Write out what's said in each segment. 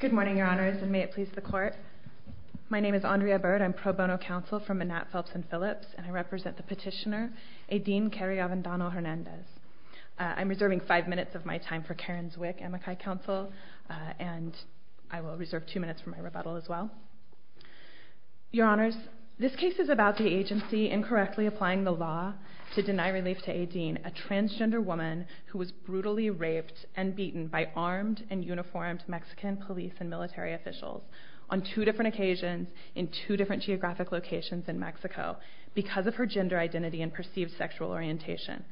Good morning, Your Honors, and may it please the Court. My name is Andrea Byrd. I'm pro bono counsel for Manatt, Phelps & Phillips, and I represent the petitioner, Aideen Kary Avendano-Hernandez. I'm reserving five minutes of my time for Karen Zwick, Amakai Counsel, and I will reserve two minutes for my rebuttal as well. Your Honors, this case is about the agency incorrectly applying the law to deny relief to Aideen, a transgender woman who was brutally raped and beaten by armed and uniformed Mexican police and military officials on two different occasions in two different geographic locations in Mexico because of her gender identity and perceived sexual orientation.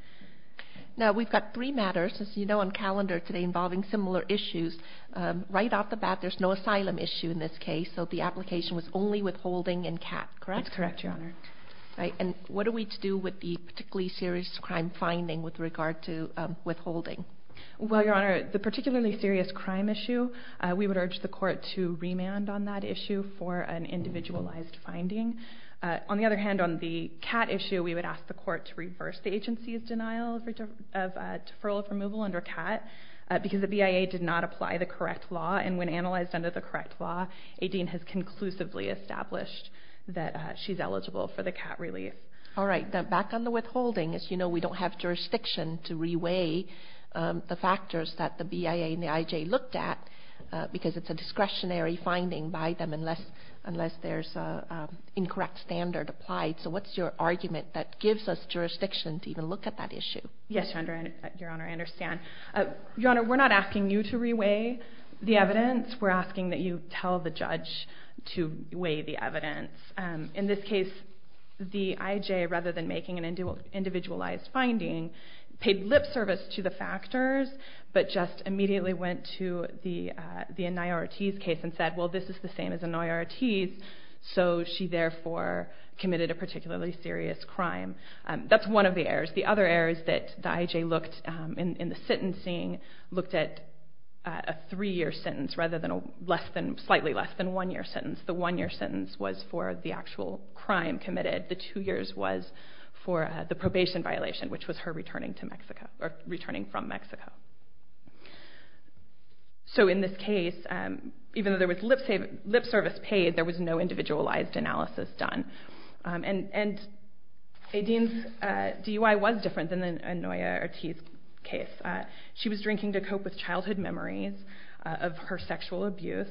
Now, we've got three matters, as you know, on calendar today involving similar issues. Right off the bat, there's no asylum issue in this case, so the application was only withholding and CAT, correct? That's correct, Your Honor. And what do we do with the particularly serious crime finding with regard to withholding? Well, Your Honor, the particularly serious crime issue, we would urge the court to remand on that issue for an individualized finding. On the other hand, on the CAT issue, we would ask the court to reverse the agency's denial of deferral of removal under CAT because the BIA did not apply the correct law, and when analyzed under the correct law, Aideen has conclusively established that she's eligible for the CAT relief. All right, back on the withholding. As you know, we don't have jurisdiction to reweigh the factors that the BIA and the IJ looked at because it's a discretionary finding by them unless there's an incorrect standard applied. So what's your argument that gives us jurisdiction to even look at that issue? Yes, Your Honor, I understand. Your Honor, we're not asking you to reweigh the evidence. We're asking that you tell the judge to weigh the evidence. In this case, the IJ, rather than making an individualized finding, paid lip service to the factors but just immediately went to the Inayah Ortiz case and said, well, this is the same as Inayah Ortiz, so she therefore committed a particularly serious crime. That's one of the errors. The other errors that the IJ looked in the sentencing looked at a three-year sentence rather than a slightly less than one-year sentence. The one-year sentence was for the actual crime committed. The two years was for the probation violation, which was her returning from Mexico. So in this case, even though there was lip service paid, there was no individualized analysis done. And Aideen's DUI was different than Inayah Ortiz's case. She was drinking to cope with childhood memories of her sexual abuse.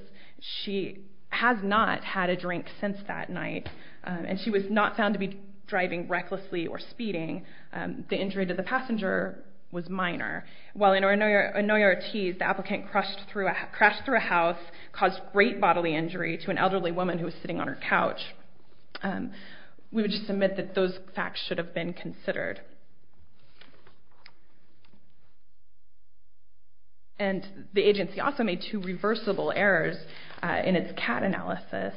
She has not had a drink since that night, and she was not found to be driving recklessly or speeding. The injury to the passenger was minor. While in Inayah Ortiz, the applicant crashed through a house, caused great bodily injury to an elderly woman who was sitting on her couch. We would just admit that those facts should have been considered. And the agency also made two reversible errors in its CAT analysis.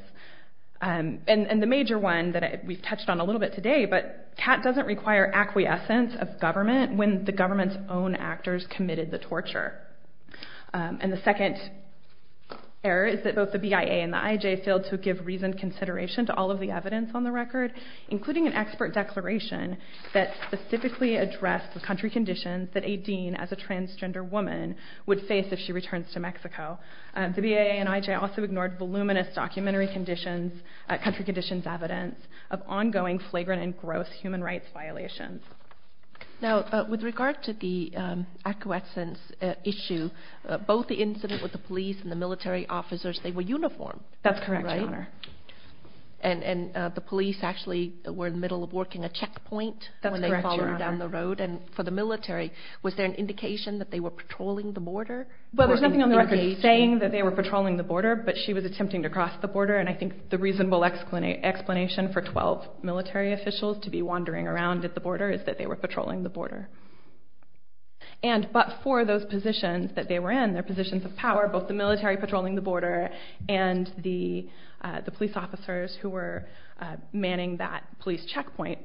And the major one that we've touched on a little bit today, but CAT doesn't require acquiescence of government when the government's own actors committed the torture. And the second error is that both the BIA and the IJ failed to give reasoned consideration to all of the evidence on the record, including an expert declaration that specifically addressed the country conditions that Aideen, as a transgender woman, would face if she returns to Mexico. The BIA and IJ also ignored voluminous country conditions evidence of ongoing flagrant and gross human rights violations. Now, with regard to the acquiescence issue, both the incident with the police and the military officers, they were uniformed. That's correct, Your Honor. And the police actually were in the middle of working a checkpoint when they followed down the road. And for the military, was there an indication that they were patrolling the border? Well, there's nothing on the record saying that they were patrolling the border, but she was attempting to cross the border, and I think the reasonable explanation for 12 military officials to be wandering around at the border is that they were patrolling the border. But for those positions that they were in, their positions of power, both the military patrolling the border and the police officers who were manning that police checkpoint,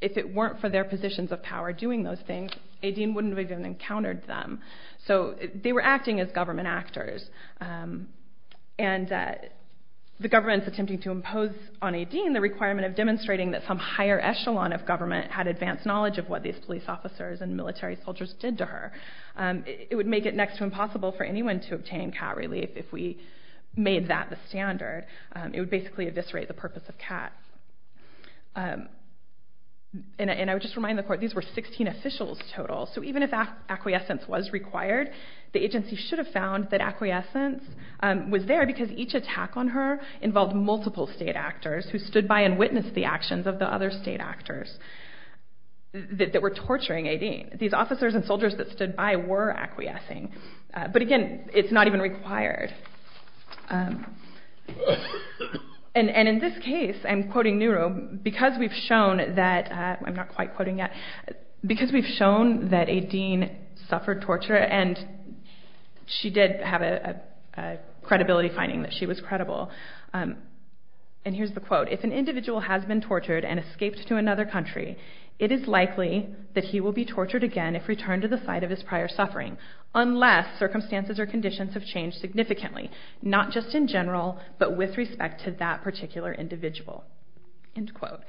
if it weren't for their positions of power doing those things, Aideen wouldn't have even encountered them. So they were acting as government actors. And the government's attempting to impose on Aideen the requirement of demonstrating that some higher echelon of government had advanced knowledge of what these police officers and military soldiers did to her. It would make it next to impossible for anyone to obtain cat relief if we made that the standard. It would basically eviscerate the purpose of cats. And I would just remind the court, these were 16 officials total, so even if acquiescence was required, the agency should have found that acquiescence was there because each attack on her involved multiple state actors who stood by and witnessed the actions of the other state actors that were torturing Aideen. These officers and soldiers that stood by were acquiescing. But again, it's not even required. And in this case, I'm quoting Nehru, because we've shown that, I'm not quite quoting yet, because we've shown that Aideen suffered torture, and she did have a credibility finding that she was credible, and here's the quote, if an individual has been tortured and escaped to another country, it is likely that he will be tortured again if returned to the site of his prior suffering, unless circumstances or conditions have changed significantly, not just in general, but with respect to that particular individual. End quote.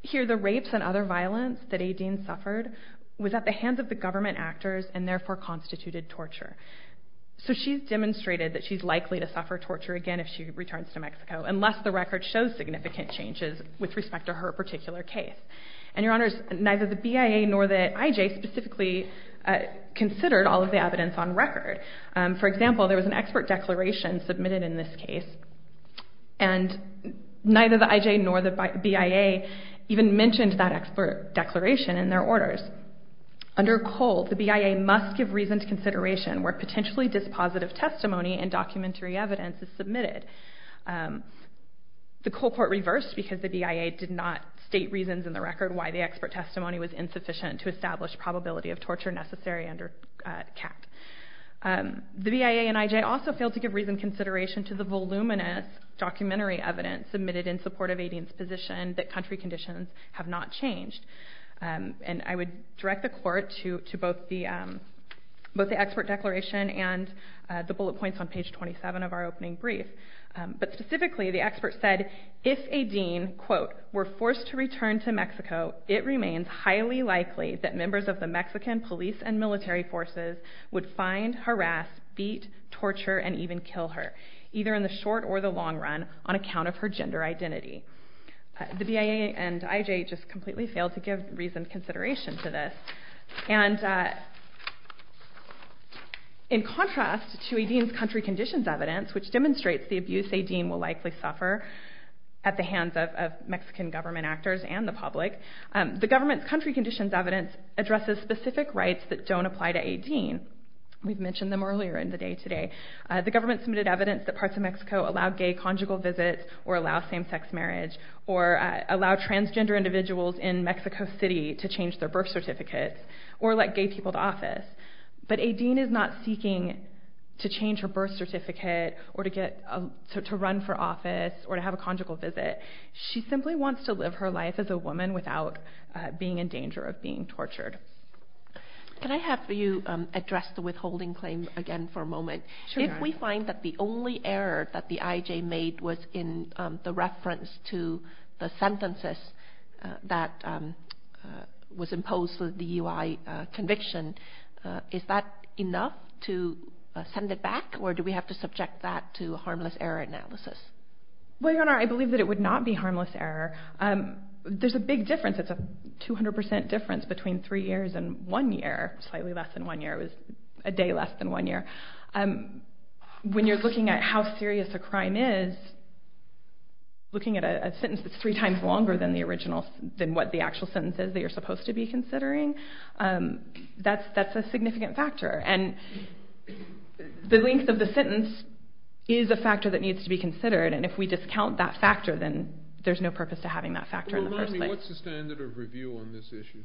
Here, the rapes and other violence that Aideen suffered was at the hands of the government actors and therefore constituted torture. So she's demonstrated that she's likely to suffer torture again if she returns to Mexico, unless the record shows significant changes with respect to her particular case. And, Your Honors, neither the BIA nor the IJ specifically considered all of the evidence on record. For example, there was an expert declaration submitted in this case, and neither the IJ nor the BIA even mentioned that expert declaration in their orders. Under COLE, the BIA must give reason to consideration where potentially dispositive testimony and documentary evidence is submitted. The COLE Court reversed, because the BIA did not state reasons in the record why the expert testimony was insufficient to establish probability of torture necessary under CACT. The BIA and IJ also failed to give reason consideration to the voluminous documentary evidence submitted in support of Aideen's position that country conditions have not changed. And I would direct the Court to both the expert declaration and the bullet points on page 27 of our opening brief. But specifically, the expert said, if Aideen, quote, were forced to return to Mexico, it remains highly likely that members of the Mexican police and military forces would find, harass, beat, torture, and even kill her, either in the short or the long run, on account of her gender identity. The BIA and IJ just completely failed to give reason consideration to this. And in contrast to Aideen's country conditions evidence, which demonstrates the abuse Aideen will likely suffer at the hands of Mexican government actors and the public, the government's country conditions evidence addresses specific rights that don't apply to Aideen. We've mentioned them earlier in the day today. The government submitted evidence that parts of Mexico allow gay conjugal visits or allow same-sex marriage or allow transgender individuals in Mexico City to change their birth certificates or let gay people to office. But Aideen is not seeking to change her birth certificate or to run for office or to have a conjugal visit. She simply wants to live her life as a woman without being in danger of being tortured. Can I have you address the withholding claim again for a moment? If we find that the only error that the IJ made was in the reference to the sentences that was imposed for the UI conviction, is that enough to send it back or do we have to subject that to a harmless error analysis? Well, Your Honor, I believe that it would not be harmless error. There's a big difference. It's a 200% difference between 3 years and 1 year, slightly less than 1 year. It was a day less than 1 year. When you're looking at how serious a crime is, looking at a sentence that's 3 times longer than the original, than what the actual sentence is that you're supposed to be considering, that's a significant factor. And the length of the sentence is a factor that needs to be considered and if we discount that factor, then there's no purpose to having that factor in the first place. What's the standard of review on this issue?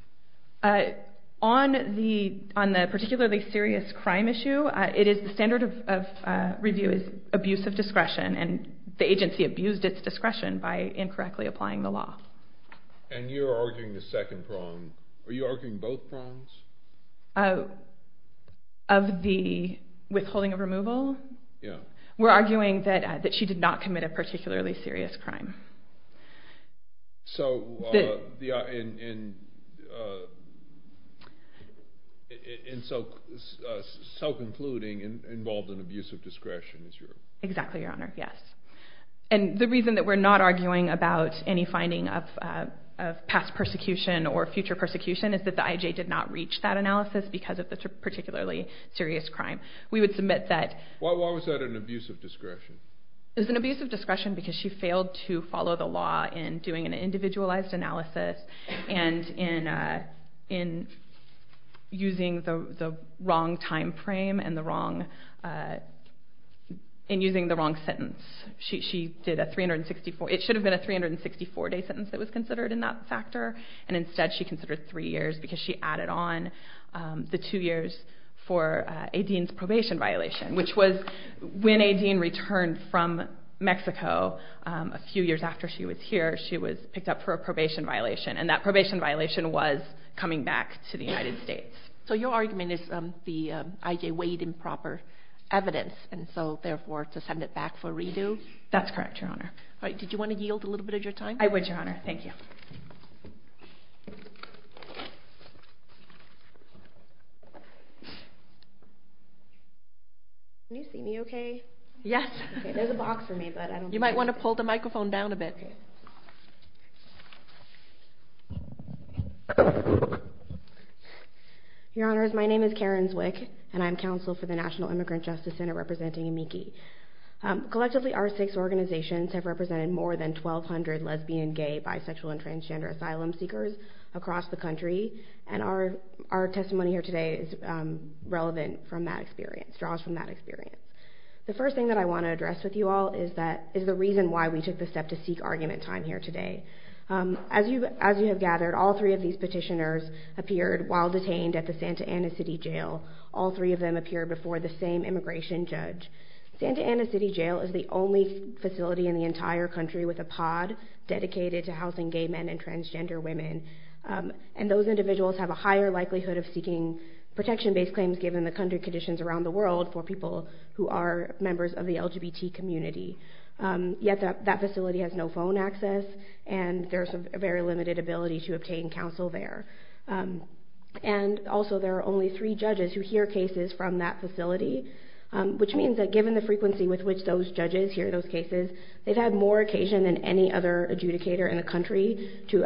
On the particularly serious crime issue, the standard of review is abuse of discretion and the agency abused its discretion by incorrectly applying the law. And you're arguing the second prong. Are you arguing both prongs? Of the withholding of removal? Yeah. We're arguing that she did not commit a particularly serious crime. So, in so concluding, involved in abuse of discretion? Exactly, Your Honor, yes. And the reason that we're not arguing about any finding of past persecution or future persecution is that the IJ did not reach that analysis because of the particularly serious crime. Why was that an abuse of discretion? It was an abuse of discretion because she failed to follow the law in doing an individualized analysis and in using the wrong time frame and using the wrong sentence. It should have been a 364-day sentence that was considered in that factor and instead she considered three years because she added on the two years for a dean's probation violation, which was when a dean returned from Mexico a few years after she was here, she was picked up for a probation violation and that probation violation was coming back to the United States. So your argument is the IJ weighed improper evidence and so therefore to send it back for redo? That's correct, Your Honor. All right. Did you want to yield a little bit of your time? I would, Your Honor. Thank you. Can you see me okay? Yes. There's a box for me, but I don't see it. You might want to pull the microphone down a bit. Okay. Your Honors, my name is Karen Zwick and I'm counsel for the National Immigrant Justice Center representing AMICI. Collectively, our six organizations have represented more than 1,200 lesbian, gay, bisexual, and transgender asylum seekers across the country and our testimony here today is relevant from that experience, The first thing that I want to address with you all is the reason why we took the step to seek argument time here today. As you have gathered, all three of these petitioners appeared while detained at the Santa Ana City Jail. All three of them appeared before the same immigration judge. Santa Ana City Jail is the only facility in the entire country with a pod dedicated to housing gay men and transgender women and those individuals have a higher likelihood of seeking protection-based claims given the country conditions around the world for people who are members of the LGBT community. Yet that facility has no phone access and there's a very limited ability to obtain counsel there. And also there are only three judges who hear cases from that facility which means that given the frequency with which those judges hear those cases, they've had more occasion than any other adjudicator in the country to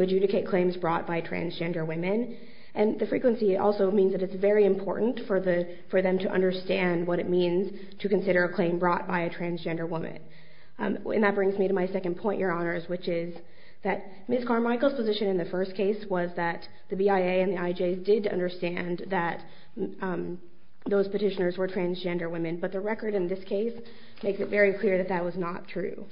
adjudicate claims brought by transgender women and the frequency also means that it's very important for them to understand what it means to consider a claim brought by a transgender woman. And that brings me to my second point, Your Honors, which is that Ms. Carmichael's position in the first case was that the BIA and the IJ did understand that those petitioners were transgender women but the record in this case makes it very clear that that was not true.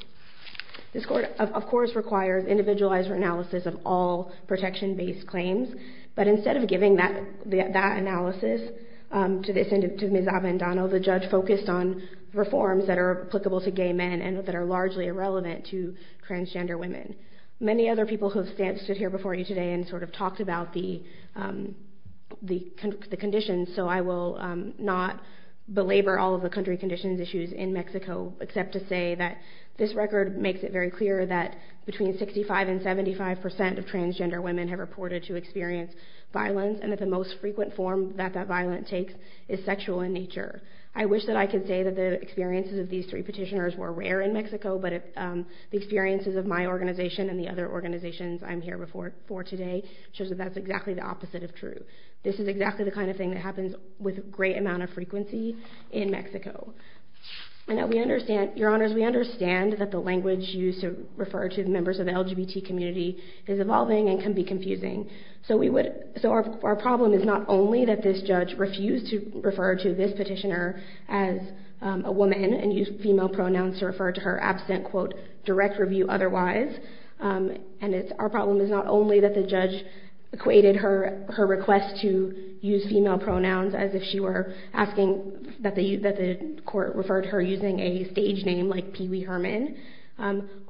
This court, of course, requires individualized analysis of all protection-based claims, but instead of giving that analysis to Ms. Avendano, the judge focused on reforms that are applicable to gay men and that are largely irrelevant to transgender women. Many other people have stood here before you today and sort of talked about the conditions, so I will not belabor all of the country conditions issues in Mexico except to say that this record makes it very clear that between 65% and 75% of transgender women have reported to experience violence and that the most frequent form that that violence takes is sexual in nature. I wish that I could say that the experiences of these three petitioners were rare in Mexico, but the experiences of my organization and the other organizations I'm here before today shows that that's exactly the opposite of true. This is exactly the kind of thing that happens with a great amount of frequency in Mexico. Your Honors, we understand that the language used to refer to members of the LGBT community is evolving and can be confusing, so our problem is not only that this judge refused to refer to this petitioner as a woman and used female pronouns to refer to her absent, quote, direct review otherwise, and our problem is not only that the judge equated her request to use female pronouns as if she were asking that the court refer to her using a stage name like Pee Wee Herman.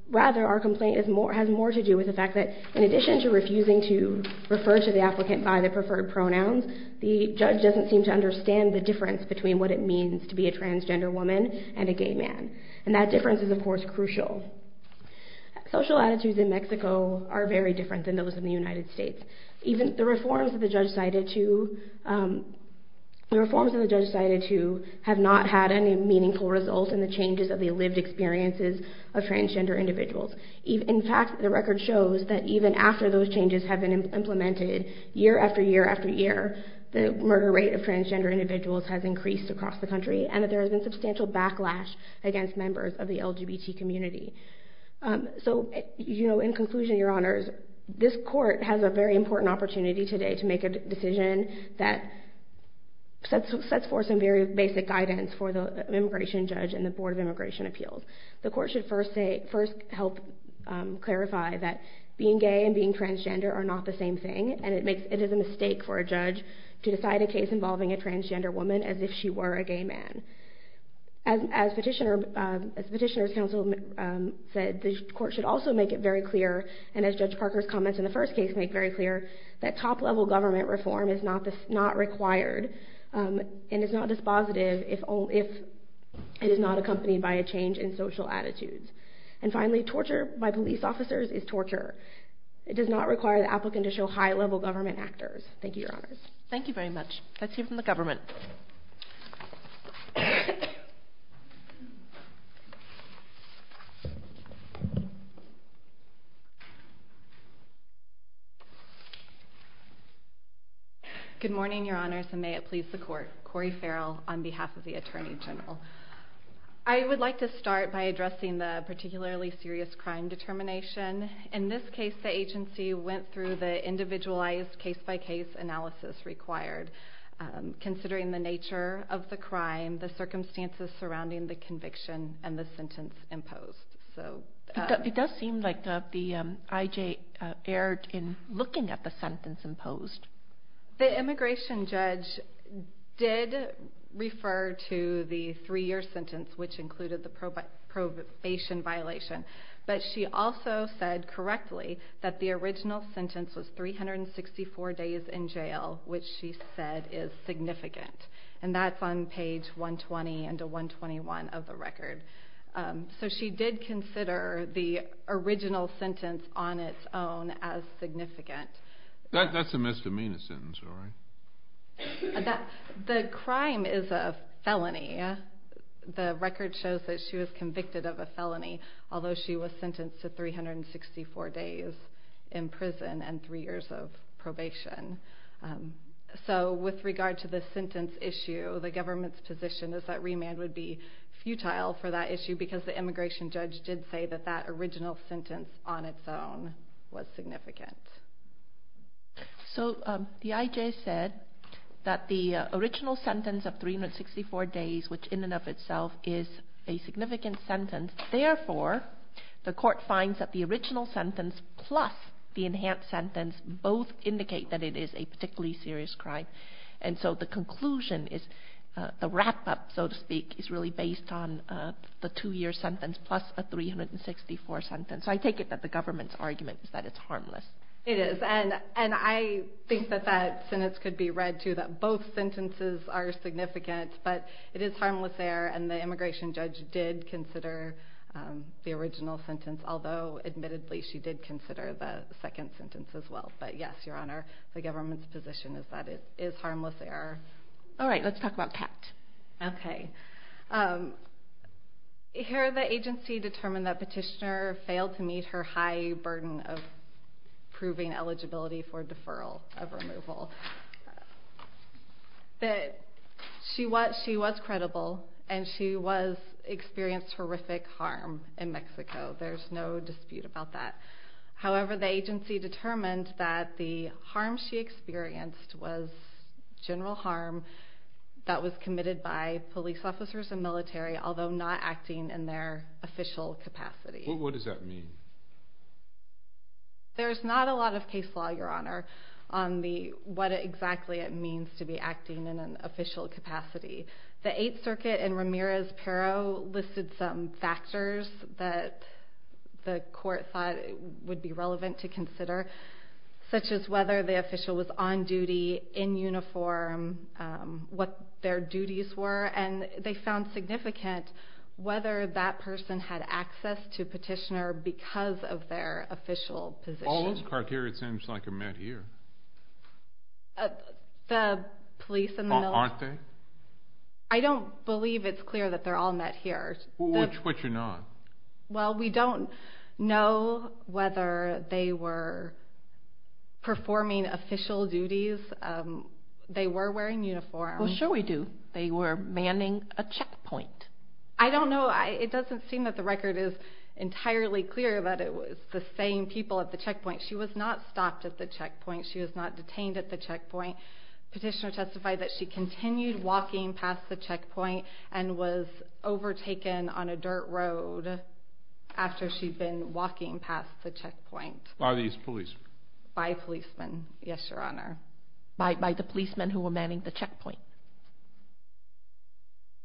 Rather, our complaint has more to do with the fact that in addition to refusing to refer to the applicant by the preferred pronouns, the judge doesn't seem to understand the difference between what it means to be a transgender woman and a gay man, and that difference is, of course, crucial. Social attitudes in Mexico are very different than those in the United States. Even the reforms that the judge cited to... the reforms that the judge cited to have not had any meaningful results in the changes of the lived experiences of transgender individuals. In fact, the record shows that even after those changes have been implemented, year after year after year, the murder rate of transgender individuals has increased across the country, and that there has been substantial backlash against members of the LGBT community. So, you know, in conclusion, Your Honors, this court has a very important opportunity today to make a decision that sets forth some very basic guidance for the immigration judge and the Board of Immigration Appeals. The court should first help clarify that being gay and being transgender are not the same thing, and it is a mistake for a judge to decide a case involving a transgender woman as if she were a gay man. As Petitioner's Counsel said, the court should also make it very clear, and as Judge Parker's comments in the first case make very clear, that top-level government reform is not required and is not dispositive if it is not accompanied by a change in social attitudes. And finally, torture by police officers is torture. It does not require the applicant to show high-level government actors. Thank you, Your Honors. Thank you very much. Let's hear from the government. Good morning, Your Honors, and may it please the court. Cori Farrell, on behalf of the Attorney General. I would like to start by addressing the particularly serious crime determination. In this case, the agency went through the individualized case-by-case analysis required, considering the nature of the crime, the circumstances surrounding the conviction, and the sentence imposed. It does seem like the court erred in looking at the sentence imposed. The immigration judge did refer to the three-year sentence, which included the probation violation, but she also said correctly that the original sentence was 364 days in jail, which she said is significant. And that's on page 120 and 121 of the record. So she did consider the original sentence on its own as significant. That's a misdemeanor sentence, all right. The crime is a felony. The record shows that she was convicted of a felony, although she was sentenced to 364 days in prison and three years of probation. the government's position is that remand would be futile for that issue because the immigration judge did say that that original sentence on its own was significant. So the IJ said that the original sentence of 364 days, which in and of itself is a significant sentence, therefore the court finds that the original sentence plus the enhanced sentence both indicate that it is a particularly serious crime. And so the conclusion is the wrap-up, so to speak, is really based on the two-year sentence plus a 364 sentence. So I take it that the government's argument is that it's harmless. It is, and I think that that sentence could be read, too, that both sentences are significant, but it is harmless there, and the immigration judge did consider the original sentence, although admittedly she did consider the second sentence as well. But yes, Your Honor, the government's position is that it is harmless there. All right, let's talk about Pat. Okay. Here the agency determined that Petitioner failed to meet her high burden of proving eligibility for deferral of removal. She was credible, and she experienced horrific harm in Mexico. There's no dispute about that. However, the agency determined that the harm she experienced was general harm that was committed by police officers and military, although not acting in their official capacity. Well, what does that mean? There's not a lot of case law, Your Honor, on what exactly it means to be acting in an official capacity. The Eighth Circuit in Ramirez-Pero listed some factors that the court thought would be relevant to consider, such as whether the official was on duty, in uniform, what their duties were, and they found significant whether that person had access to Petitioner because of their official position. All those criteria it seems like are met here. The police and the military. Aren't they? I don't believe it's clear that they're all met here. Which are not? Well, we don't know whether they were performing official duties. They were wearing uniforms. Well, sure we do. They were manning a checkpoint. I don't know. It doesn't seem that the record is entirely clear that it was the same people at the checkpoint. She was not stopped at the checkpoint. Petitioner testified that she continued walking past the checkpoint and was overtaken on a dirt road after she'd been walking past the checkpoint. By these policemen? By policemen, yes, Your Honor. By the policemen who were manning the checkpoint?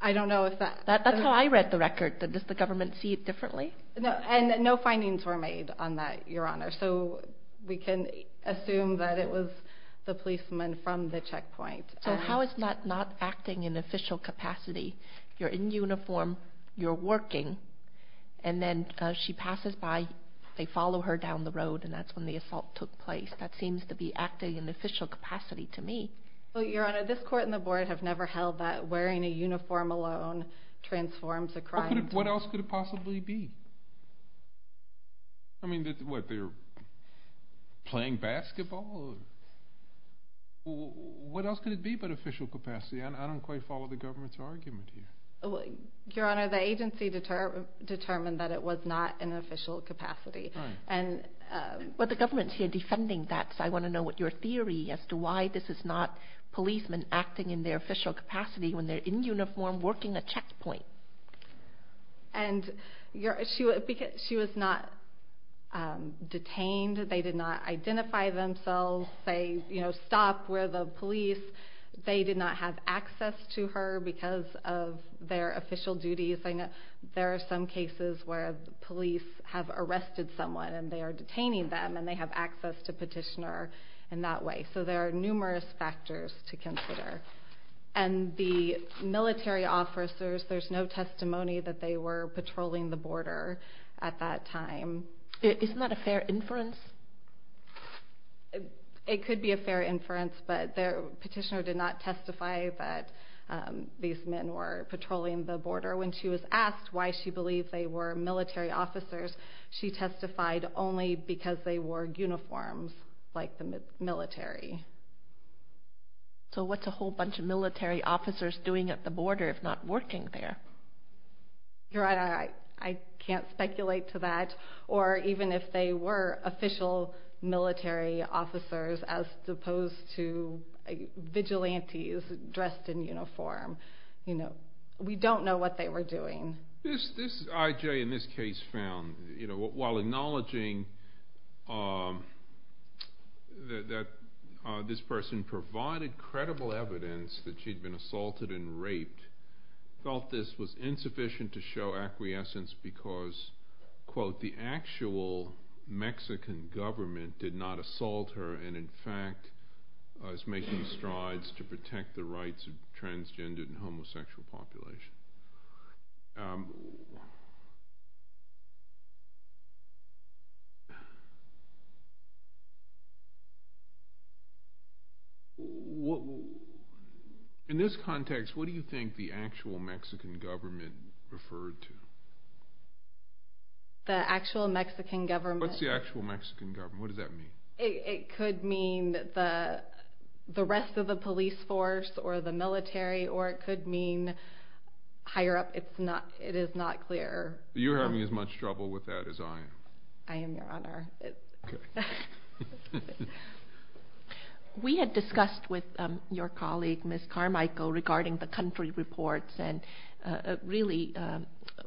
I don't know if that... That's how I read the record. Does the government see it differently? No, and no findings were made on that, Your Honor. So we can assume that it was the policemen from the checkpoint. So how is that not acting in official capacity? You're in uniform, you're working, and then she passes by, they follow her down the road, and that's when the assault took place. That seems to be acting in official capacity to me. Well, Your Honor, this court and the board have never held that wearing a uniform alone transforms a crime. What else could it possibly be? I mean, what, they were playing basketball? What else could it be but official capacity? I don't quite follow the government's argument here. Your Honor, the agency determined that it was not in official capacity. Right. But the government's here defending that, so I want to know your theory as to why this is not policemen acting in their official capacity when they're in uniform working a checkpoint. And she was not detained, they did not identify themselves, they stopped where the police, they did not have access to her because of their official duties. There are some cases where police have arrested someone and they are detaining them and they have access to petitioner in that way. So there are numerous factors to consider. And the military officers, there's no testimony that they were patrolling the border at that time. Isn't that a fair inference? It could be a fair inference, but the petitioner did not testify that these men were patrolling the border. When she was asked why she believed they were military officers, she testified only because they wore uniforms like the military. So what's a whole bunch of military officers doing at the border if not working there? Your Honor, I can't speculate to that. Or even if they were official military officers as opposed to vigilantes dressed in uniform. We don't know what they were doing. This I.J. in this case found, while acknowledging that this person provided credible evidence that she'd been assaulted and raped, felt this was insufficient to show acquiescence because, quote, the actual Mexican government did not assault her and in fact was making strides to protect the rights of the transgendered and homosexual population. In this context, what do you think the actual Mexican government referred to? The actual Mexican government? What's the actual Mexican government? What does that mean? It could mean the rest of the police force or the military or it could mean higher up. It is not clear. You're having as much trouble with that as I am. I am, Your Honor. We had discussed with your colleague, Ms. Carmichael, regarding the country reports and really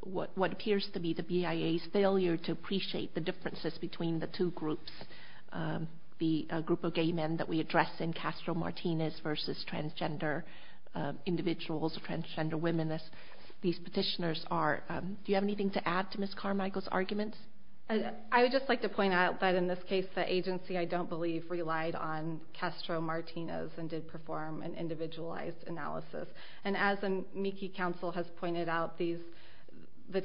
what appears to be the BIA's failure to appreciate the differences between the two groups, the group of gay men that we address in Castro-Martinez versus transgender individuals, transgender women, as these petitioners are. Do you have anything to add to Ms. Carmichael's arguments? I would just like to point out that in this case the agency I don't believe relied on Castro-Martinez and did perform an individualized analysis. And as Miki Counsel has pointed out, the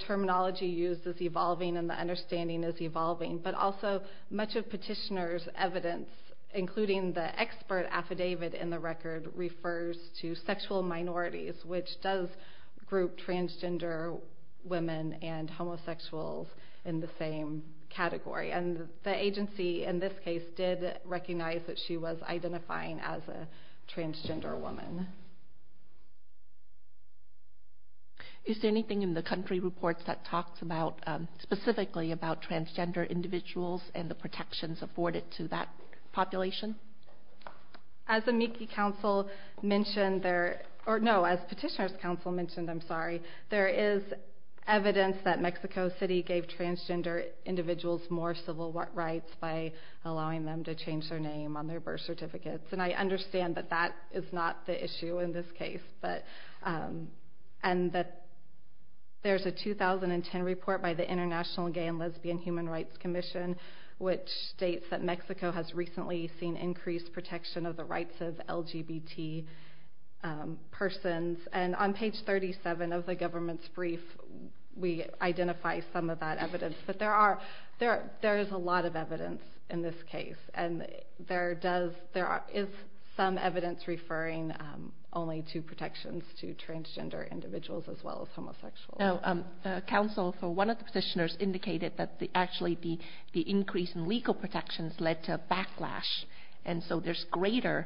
terminology used is evolving and the understanding is evolving, but also much of petitioner's evidence, including the expert affidavit in the record, refers to sexual minorities, which does group transgender women and homosexuals in the same category. And the agency in this case did recognize that she was identifying as a transgender woman. Is there anything in the country reports that talks specifically about transgender individuals and the protections afforded to that population? As Miki Counsel mentioned, or no, as Petitioner's Counsel mentioned, I'm sorry, there is evidence that Mexico City gave transgender individuals more civil rights by allowing them to change their name on their birth certificates. And I understand that that is not the issue in this case. And that there's a 2010 report by the International Gay and Lesbian Human Rights Commission which states that Mexico has recently seen increased protection of the rights of LGBT persons. And on page 37 of the government's brief, we identify some of that evidence. But there is a lot of evidence in this case. And there is some evidence referring only to protections to transgender individuals as well as homosexuals. Counsel, one of the petitioners indicated that actually the increase in legal protections led to a backlash. And so there's greater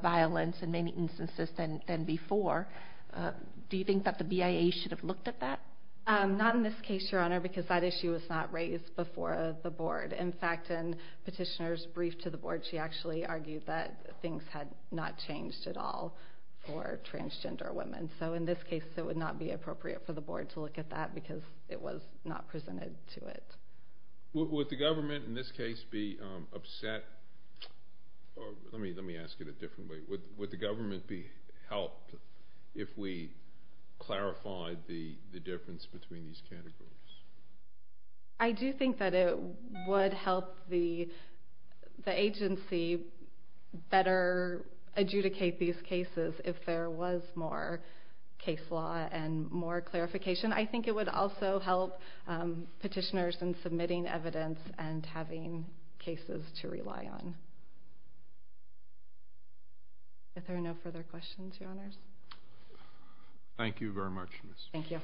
violence in many instances than before. Do you think that the BIA should have looked at that? Not in this case, Your Honor, because that issue was not raised before the board. In fact, in Petitioner's brief to the board, she actually argued that things had not changed at all for transgender women. So in this case, it would not be appropriate for the board to look at that because it was not presented to it. Would the government in this case be upset? Let me ask it a different way. Would the government be helped if we clarified the difference between these categories? I do think that it would help the agency better adjudicate these cases if there was more case law and more clarification. I think it would also help petitioners in submitting evidence and having cases to rely on. If there are no further questions, Your Honors. Thank you very much, Ms. Brown. Thank you.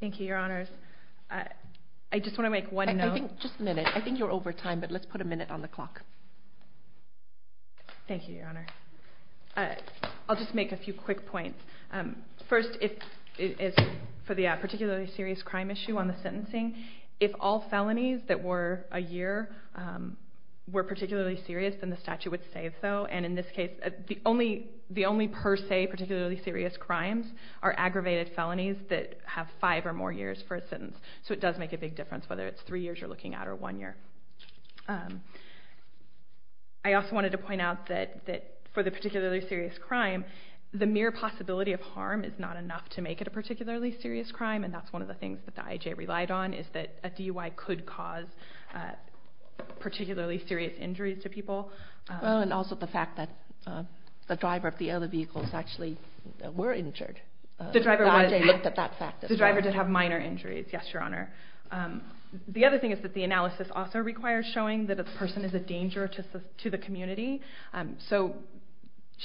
Thank you, Your Honors. I just want to make one note. I think you're over time, but let's put a minute on the clock. Thank you, Your Honor. I'll just make a few quick points. First, for the particularly serious crime issue on the sentencing, if all felonies that were a year were particularly serious, then the statute would save, though. And in this case, the only per se particularly serious crimes are aggravated felonies that have five or more years for a sentence. So it does make a big difference, whether it's three years you're looking at or one year. I also wanted to point out that for the particularly serious crime, the mere possibility of harm is not enough to make it a particularly serious crime, and that's one of the things that the IJ relied on, is that a DUI could cause particularly serious injuries to people. And also the fact that the driver of the other vehicles actually were injured. The driver did have minor injuries, yes, Your Honor. The other thing is that the analysis also requires showing that a person is a danger to the community. So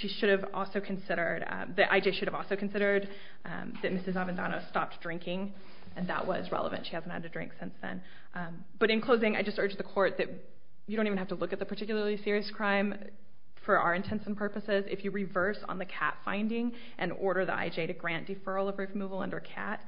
the IJ should have also considered that Mrs. Avendano stopped drinking, and that was relevant. She hasn't had a drink since then. But in closing, I just urge the Court that you don't even have to look at the particularly serious crime for our intents and purposes. If you reverse on the cat finding and order the IJ to grant deferral of removal under cat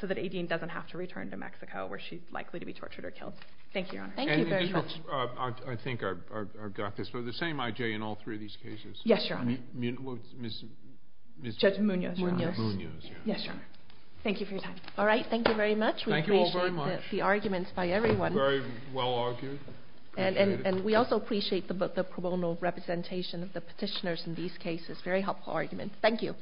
so that Aideen doesn't have to return to Mexico where she's likely to be tortured or killed. Thank you, Your Honor. Thank you very much. I think I've got this. So the same IJ in all three of these cases? Yes, Your Honor. Judge Munoz, Your Honor. Munoz, Your Honor. Yes, Your Honor. Thank you for your time. All right, thank you very much. Thank you all very much. We appreciate the arguments by everyone. Very well argued. And we also appreciate the pro bono representation of the petitioners in these cases. Very helpful arguments. Thank you.